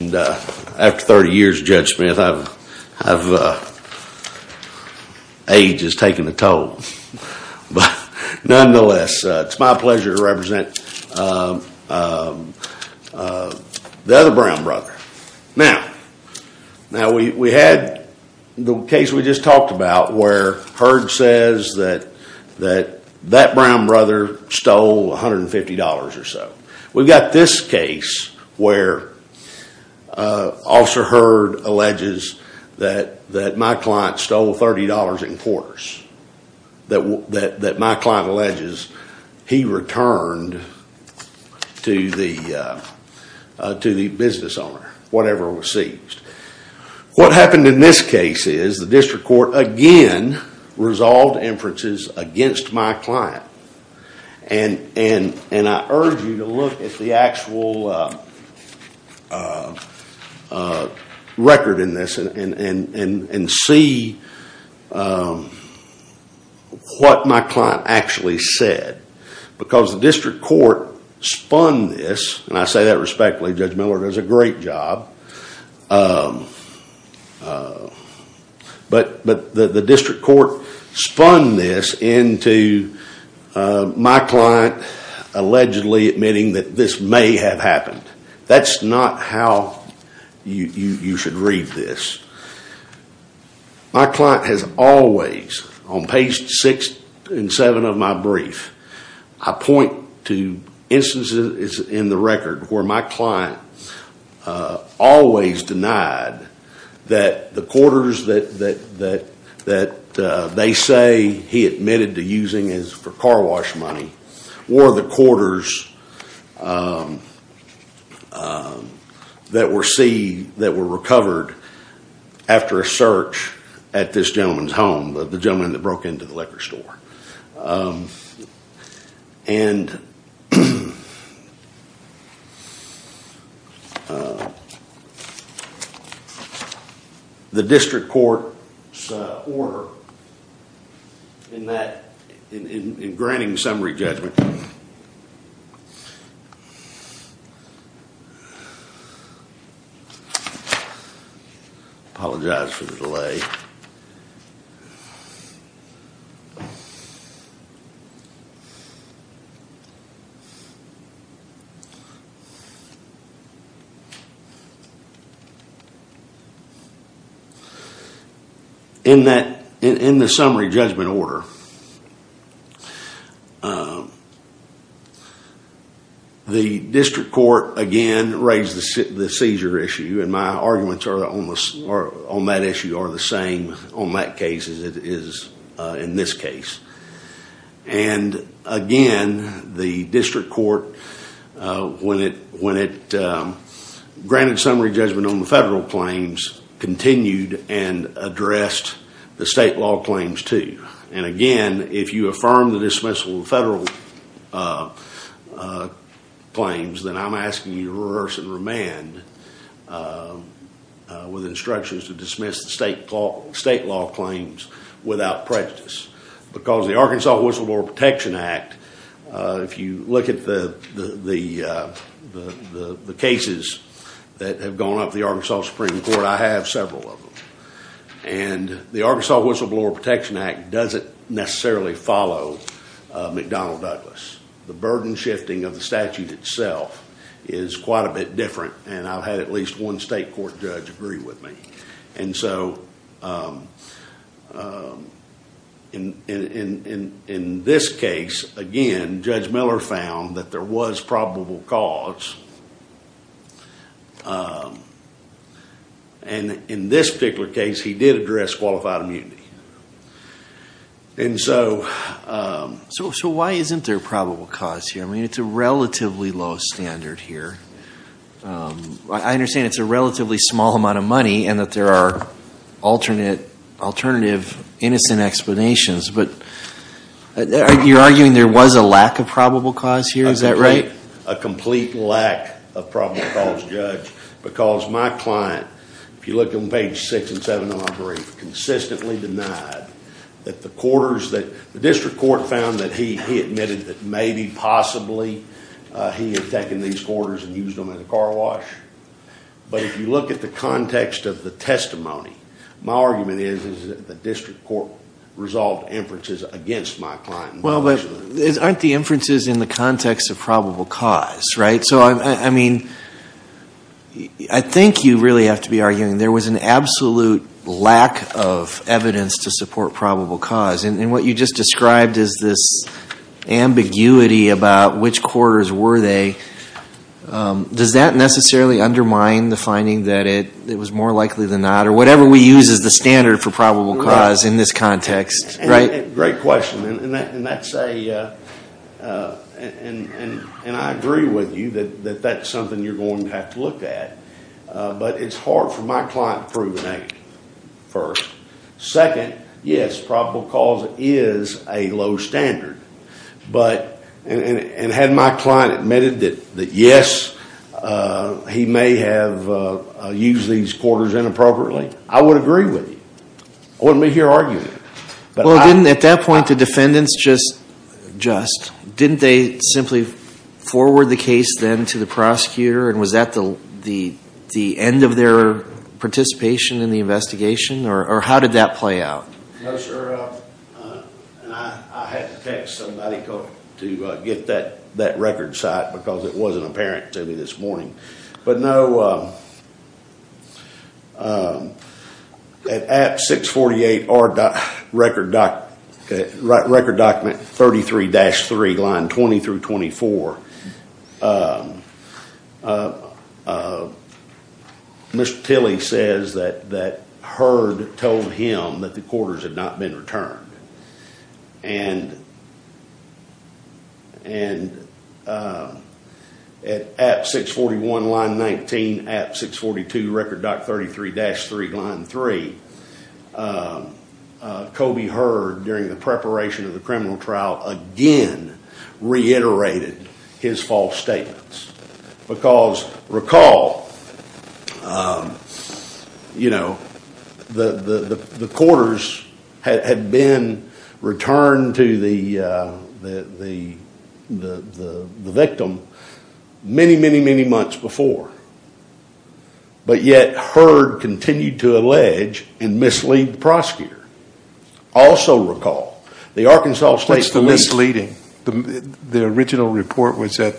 After 30 years Judge Smith, age has taken a toll, but nonetheless it's my pleasure to represent the other Brown brother. Now, we had the case we just talked about where Heard says that that Brown brother stole $150 or so. We've got this case where Officer Heard alleges that my client stole $30 in quarters. That my client alleges he returned to the business owner, whatever was seized. What happened in this case is the district court again resolved inferences against my client. And I urge you to look at the actual record in this and see what my client actually said. Because the district court spun this, and I say that respectfully, Judge Miller does a great job. But the district court spun this into my client allegedly admitting that this may have happened. That's not how you should read this. My client has always, on page six and seven of my brief, I point to instances in the record where my client always denied that the quarters that they say he admitted to using is for car wash money. Were the quarters that were recovered after a search at this gentleman's home, the gentleman that broke into the liquor store. And the district court's order in that, in granting summary judgment. Apologize for the delay. In that, in the summary judgment order. The district court again raised the seizure issue. And my arguments on that issue are the same on that case as it is in this case. And again, the district court, when it granted summary judgment on the federal claims, continued and addressed the state law claims too. And again, if you affirm the dismissal of federal claims, then I'm asking you to rehearse and remand with instructions to dismiss the state law claims without prejudice. Because the Arkansas Whistleblower Protection Act, if you look at the cases that have gone up the Arkansas Supreme Court, I have several of them. And the Arkansas Whistleblower Protection Act doesn't necessarily follow McDonnell Douglas. The burden shifting of the statute itself is quite a bit different. And I've had at least one state court judge agree with me. And so, in this case, again, Judge Miller found that there was probable cause. And in this particular case, he did address qualified immunity. And so. So why isn't there probable cause here? I mean, it's a relatively low standard here. I understand it's a relatively small amount of money, and that there are alternative innocent explanations. But you're arguing there was a lack of probable cause here, is that right? A complete lack of probable cause, Judge. Because my client, if you look on page six and seven of my brief, consistently denied that the district court found that he admitted that maybe, possibly, he had taken these quarters and used them in a car wash. But if you look at the context of the testimony, my argument is that the district court resolved inferences against my client. Well, aren't the inferences in the context of probable cause, right? So, I mean, I think you really have to be arguing there was an absolute lack of evidence to support probable cause. And what you just described is this ambiguity about which quarters were they. Does that necessarily undermine the finding that it was more likely than not? Or whatever we use as the standard for probable cause in this context, right? Great question. And that's a, and I agree with you that that's something you're going to have to look at. But it's hard for my client to prove a negative, first. Second, yes, probable cause is a low standard. But, and had my client admitted that yes, he may have used these quarters inappropriately, I would agree with you. I wouldn't be here arguing it. Well, didn't, at that point, the defendants just, just, didn't they simply forward the case then to the prosecutor? And was that the end of their participation in the investigation? Or how did that play out? No, sir, and I had to text somebody to get that record site, because it wasn't apparent to me this morning. But no, at app 648 R record document 33-3, line 20 through 24. Mr. Tilley says that, that Heard told him that the quarters had not been returned. And at app 641, line 19, app 642 record doc 33-3, line 3. Kobe Heard, during the preparation of the criminal trial, again reiterated his false statements. Because, recall, the quarters had been returned to the victim many, many, many months before. But yet, Heard continued to allege and mislead the prosecutor. Also recall, the Arkansas State Police- What's the misleading? The original report was that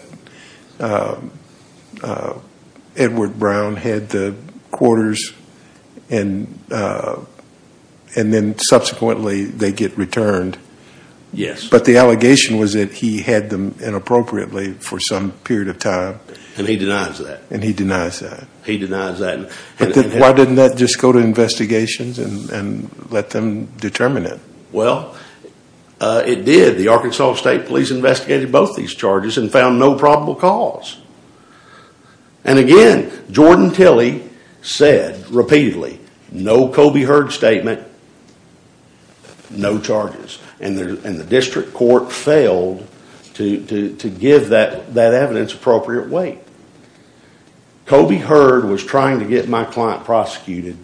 Edward Brown had the quarters, and then subsequently they get returned. Yes. But the allegation was that he had them inappropriately for some period of time. And he denies that. And he denies that. He denies that. Why didn't that just go to investigations and let them determine it? Well, it did. The Arkansas State Police investigated both these charges and found no probable cause. And again, Jordan Tilley said repeatedly, no Kobe Heard statement, no charges. And the district court failed to give that evidence appropriate weight. Kobe Heard was trying to get my client prosecuted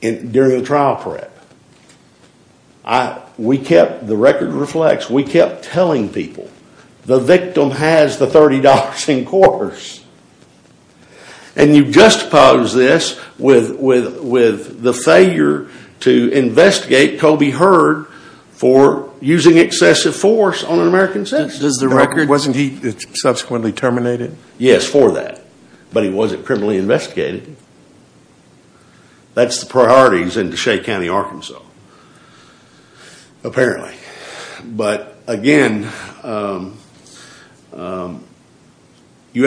during the trial prep. I, we kept, the record reflects, we kept telling people, the victim has the $30 in quarters. And you juxtapose this with the failure to investigate Kobe Heard for using excessive force on an American citizen. Does the record- Wasn't he subsequently terminated? Yes, for that. But he wasn't criminally investigated. That's the priorities in DeShay County, Arkansas, apparently. But again, you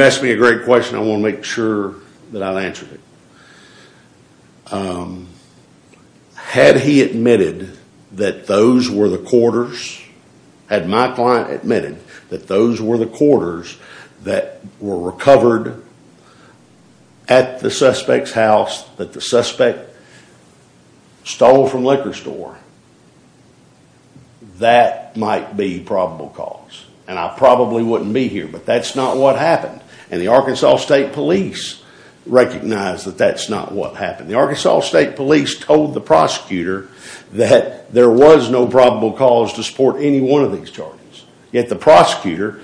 asked me a great question. I want to make sure that I've answered it. Had he admitted that those were the quarters, had my client admitted that those were the quarters that were recovered at the suspect's house, that the suspect stole from liquor store, that might be probable cause. And I probably wouldn't be here, but that's not what happened. And the Arkansas State Police recognized that that's not what happened. The Arkansas State Police told the prosecutor that there was no probable cause to support any one of these charges. Yet the prosecutor,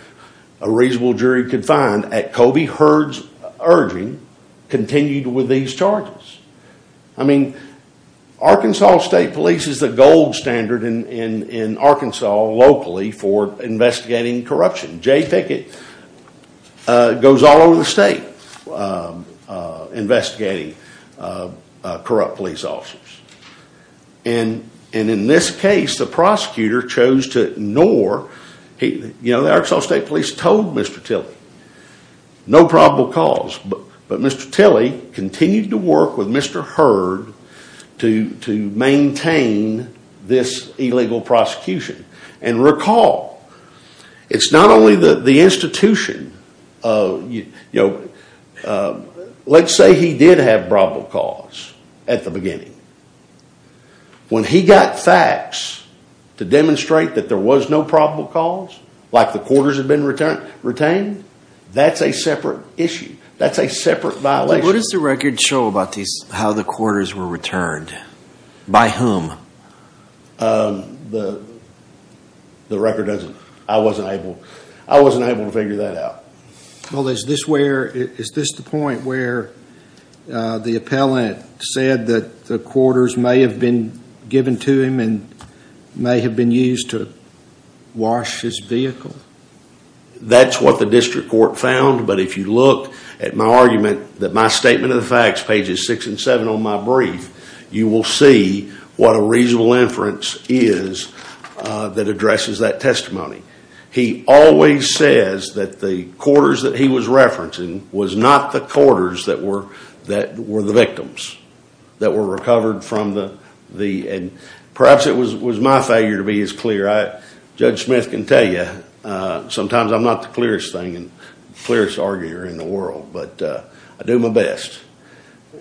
a reasonable jury could find, at Kobe Heard's urging, continued with these charges. I mean, Arkansas State Police is the gold standard in Arkansas locally for investigating corruption. Jay Pickett goes all over the state investigating corrupt police officers. And in this case, the prosecutor chose to ignore. The Arkansas State Police told Mr. Tilley, no probable cause. But Mr. Tilley continued to work with Mr. Heard to maintain this illegal prosecution. And recall, it's not only the institution. Let's say he did have probable cause at the beginning. When he got facts to demonstrate that there was no probable cause, like the quarters had been retained, that's a separate issue. That's a separate violation. So what does the record show about how the quarters were returned? By whom? The record doesn't, I wasn't able to figure that out. Well, is this the point where the appellant said that the quarters may have been given to him and may have been used to wash his vehicle? That's what the district court found. But if you look at my argument, that my statement of the facts, pages six and seven on my brief, you will see what a reasonable inference is that addresses that testimony. He always says that the quarters that he was referencing was not the quarters that were the victims, that were recovered from the, and perhaps it was my failure to be as clear. Judge Smith can tell you, sometimes I'm not the clearest thing and clearest arguer in the world, but I do my best.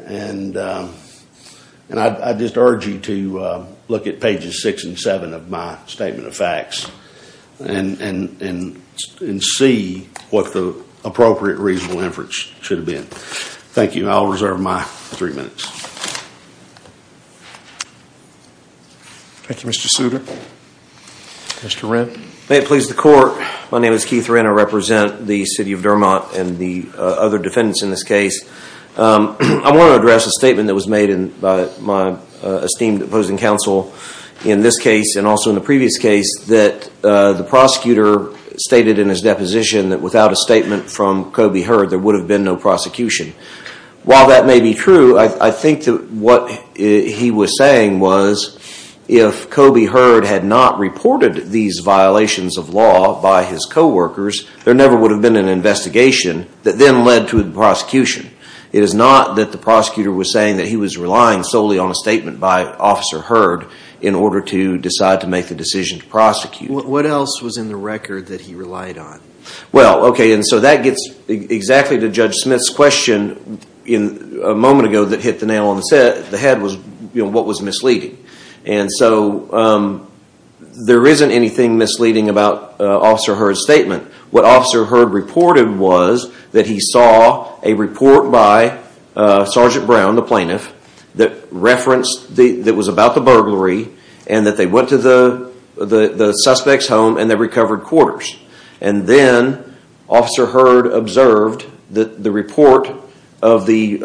And I'd just urge you to look at pages six and seven of my statement of facts and see what the appropriate reasonable inference should have been. Thank you, I'll reserve my three minutes. Thank you, Mr. Souter. Mr. Wren. May it please the court, my name is Keith Wren, I represent the city of Dermot and the other defendants in this case. I want to address a statement that was made by my esteemed opposing counsel in this case and also in the previous case that the prosecutor stated in his deposition that without a statement from Kobe Heard there would have been no prosecution. While that may be true, I think that what he was saying was if Kobe Heard had not reported these violations of law by his coworkers, there never would have been an investigation that then led to a prosecution. It is not that the prosecutor was saying that he was relying solely on a statement by Officer Heard in order to decide to make the decision to prosecute. What else was in the record that he relied on? Well, okay, and so that gets exactly to Judge Smith's question a moment ago that hit the nail on the head was what was misleading. And so there isn't anything misleading about Officer Heard's statement. What Officer Heard reported was that he saw a report by Sergeant Brown, the plaintiff, that referenced, that was about the burglary and that they went to the suspect's home and they recovered quarters. And then Officer Heard observed that the report of the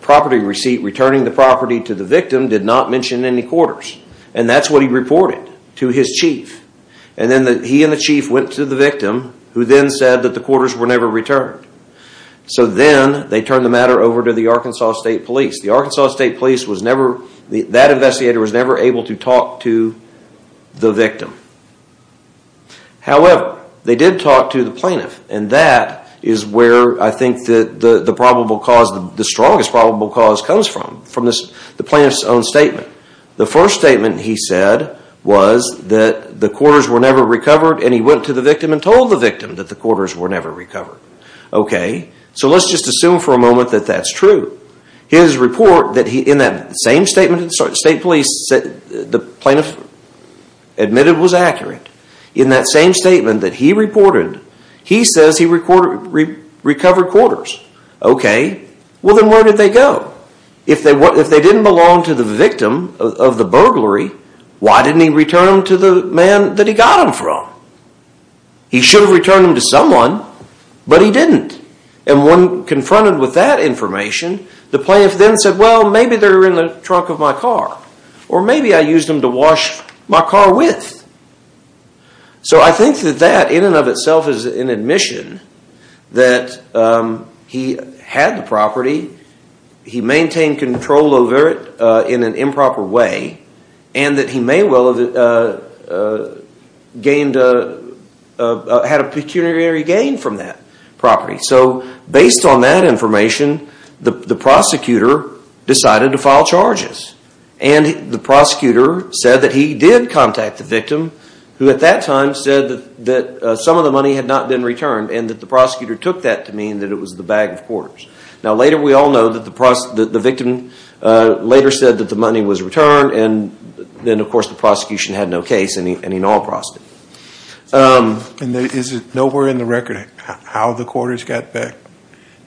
property receipt, returning the property to the victim, did not mention any quarters. And that's what he reported to his chief. And then he and the chief went to the victim, who then said that the quarters were never returned. So then they turned the matter over to the Arkansas State Police. The Arkansas State Police was never, that investigator was never able to talk to the victim. However, they did talk to the plaintiff. And that is where I think the probable cause, the strongest probable cause comes from, from the plaintiff's own statement. The first statement he said was that the quarters were never recovered and he went to the victim and told the victim that the quarters were never recovered. Okay, so let's just assume for a moment that that's true. His report that he, in that same statement that the state police, the plaintiff admitted was accurate. In that same statement that he reported, he says he recovered quarters. Okay, well then where did they go? If they didn't belong to the victim of the burglary, why didn't he return them to the man that he got them from? He should have returned them to someone, but he didn't. And when confronted with that information, the plaintiff then said, well, maybe they're in the trunk of my car, or maybe I used them to wash my car with. So I think that that, in and of itself, is an admission that he had the property. He maintained control over it in an improper way, and that he may well have had a pecuniary gain from that property. So based on that information, the prosecutor decided to file charges. And the prosecutor said that he did contact the victim, who at that time said that some of the money had not been returned, and that the prosecutor took that to mean that it was the bag of quarters. Now later, we all know that the victim later said that the money was returned, and then, of course, the prosecution had no case, and he no longer processed it. And is it nowhere in the record how the quarters got back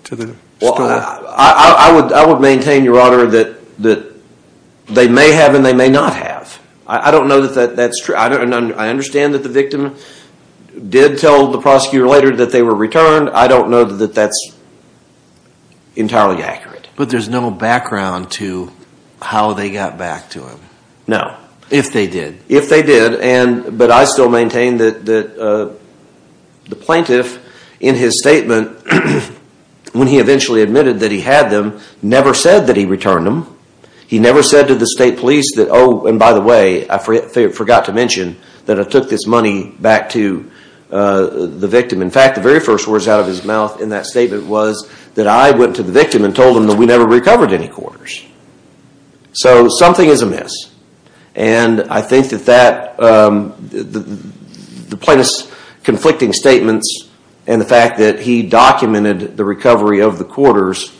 to the store? Well, I would maintain, Your Honor, that they may have and they may not have. I don't know that that's true, and I understand that the victim did tell the prosecutor later that they were returned. I don't know that that's entirely accurate. But there's no background to how they got back to him. No. If they did. If they did, but I still maintain that the plaintiff, in his statement, when he eventually admitted that he had them, never said that he returned them. He never said to the state police that, oh, and by the way, I forgot to mention that I took this money back to the victim. In fact, the very first words out of his mouth in that statement was that I went to the victim and told him that we never recovered any quarters. So something is amiss. And I think that the plaintiff's conflicting statements and the fact that he documented the recovery of the quarters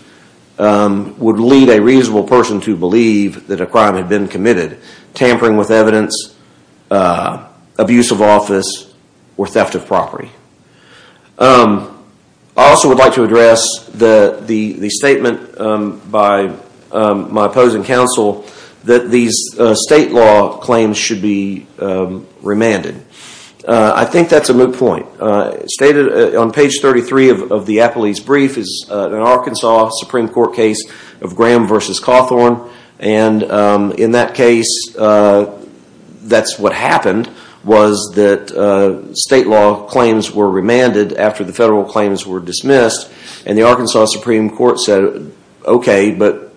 would lead a reasonable person to believe that a crime had been committed, tampering with evidence, abuse of office, or theft of property. I also would like to address the statement by my opposing counsel that these state law claims should be remanded. I think that's a moot point. Stated on page 33 of the Apple East brief is an Arkansas Supreme Court case of Graham versus Cawthorn. And in that case, that's what happened, was that state law claims were remanded after the federal claims were dismissed. And the Arkansas Supreme Court said, okay, but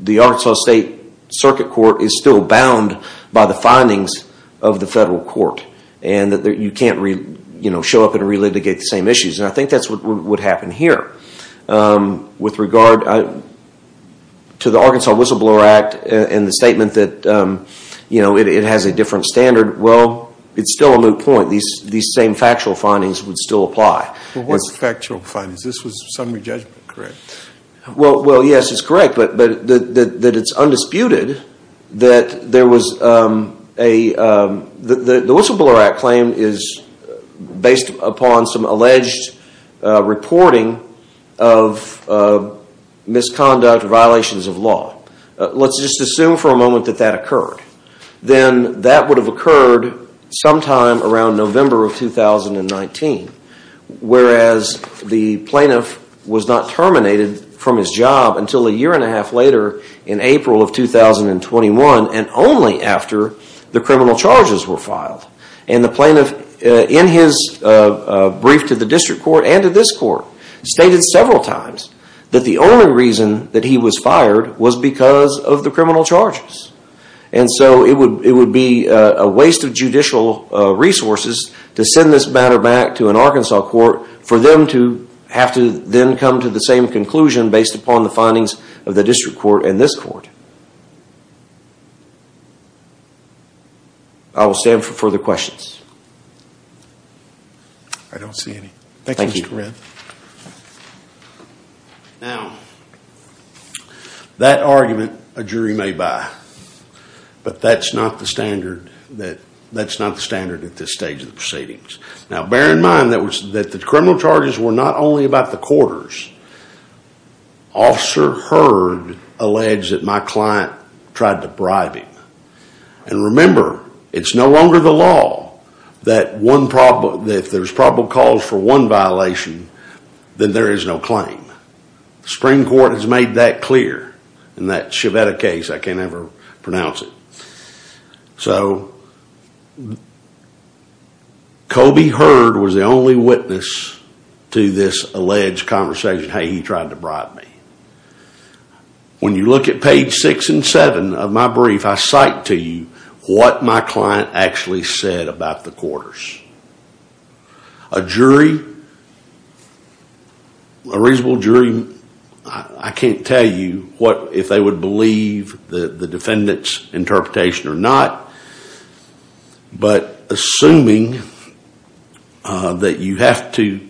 the Arkansas State Circuit Court is still bound by the findings of the federal court. And that you can't show up and relitigate the same issues. And I think that's what would happen here. With regard to the Arkansas Whistleblower Act and the statement that it has a different standard, well, it's still a moot point. These same factual findings would still apply. Well, what's factual findings? This was summary judgment, correct? Well, yes, it's correct, but that it's undisputed that there was a, the Whistleblower Act claim is based upon some alleged reporting of misconduct violations of law. Let's just assume for a moment that that occurred. Then that would have occurred sometime around November of 2019. Whereas the plaintiff was not terminated from his job until a year and a half later in April of 2021, and only after the criminal charges were filed. And the plaintiff, in his brief to the district court and to this court, stated several times that the only reason that he was fired was because of the criminal charges. And so it would be a waste of judicial resources to send this matter back to an Arkansas court for them to have to then come to the same conclusion based upon the findings of the district court and this court. I will stand for further questions. I don't see any. Thank you, Mr. Redd. Now, that argument a jury may buy, but that's not the standard at this stage of the proceedings. Now, bear in mind that the criminal charges were not only about the quarters. Officer Heard alleged that my client tried to bribe him. And remember, it's no longer the law that if there's probable cause for one violation, then there is no claim. The Supreme Court has made that clear in that Shevetta case. I can't ever pronounce it. So, Kobe Heard was the only witness to this alleged conversation, hey, he tried to bribe me. When you look at page six and seven of my brief, I cite to you what my client actually said about the quarters. A jury, a reasonable jury, I can't tell you if they would believe the defendant's interpretation or not. But assuming that you have to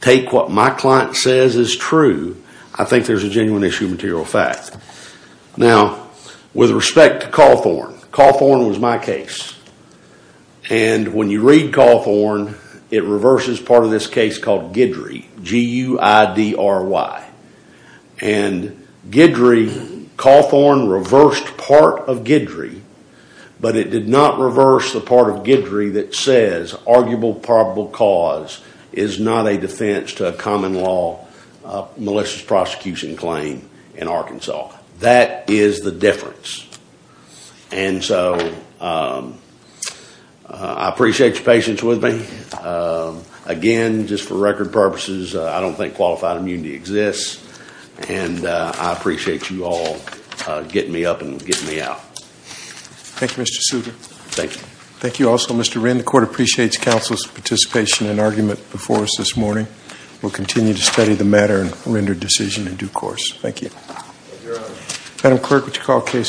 take what my client says is true, I think there's a genuine issue of material fact. Now, with respect to Cawthorn, Cawthorn was my case. And when you read Cawthorn, it reverses part of this case called Guidry, G-U-I-D-R-Y. And Guidry, Cawthorn reversed part of Guidry, but it did not reverse the part of Guidry that says arguable probable cause is not a defense to a common law malicious prosecution claim in Arkansas. That is the difference. And so, I appreciate your patience with me. Again, just for record purposes, I don't think qualified immunity exists. And I appreciate you all getting me up and getting me out. Thank you, Mr. Souter. Thank you. Thank you also, Mr. Wren. The court appreciates counsel's participation and argument before us this morning. We'll continue to study the matter and render a decision in due course. Thank you. Thank you, Your Honor. Madam Clerk, would you call the case?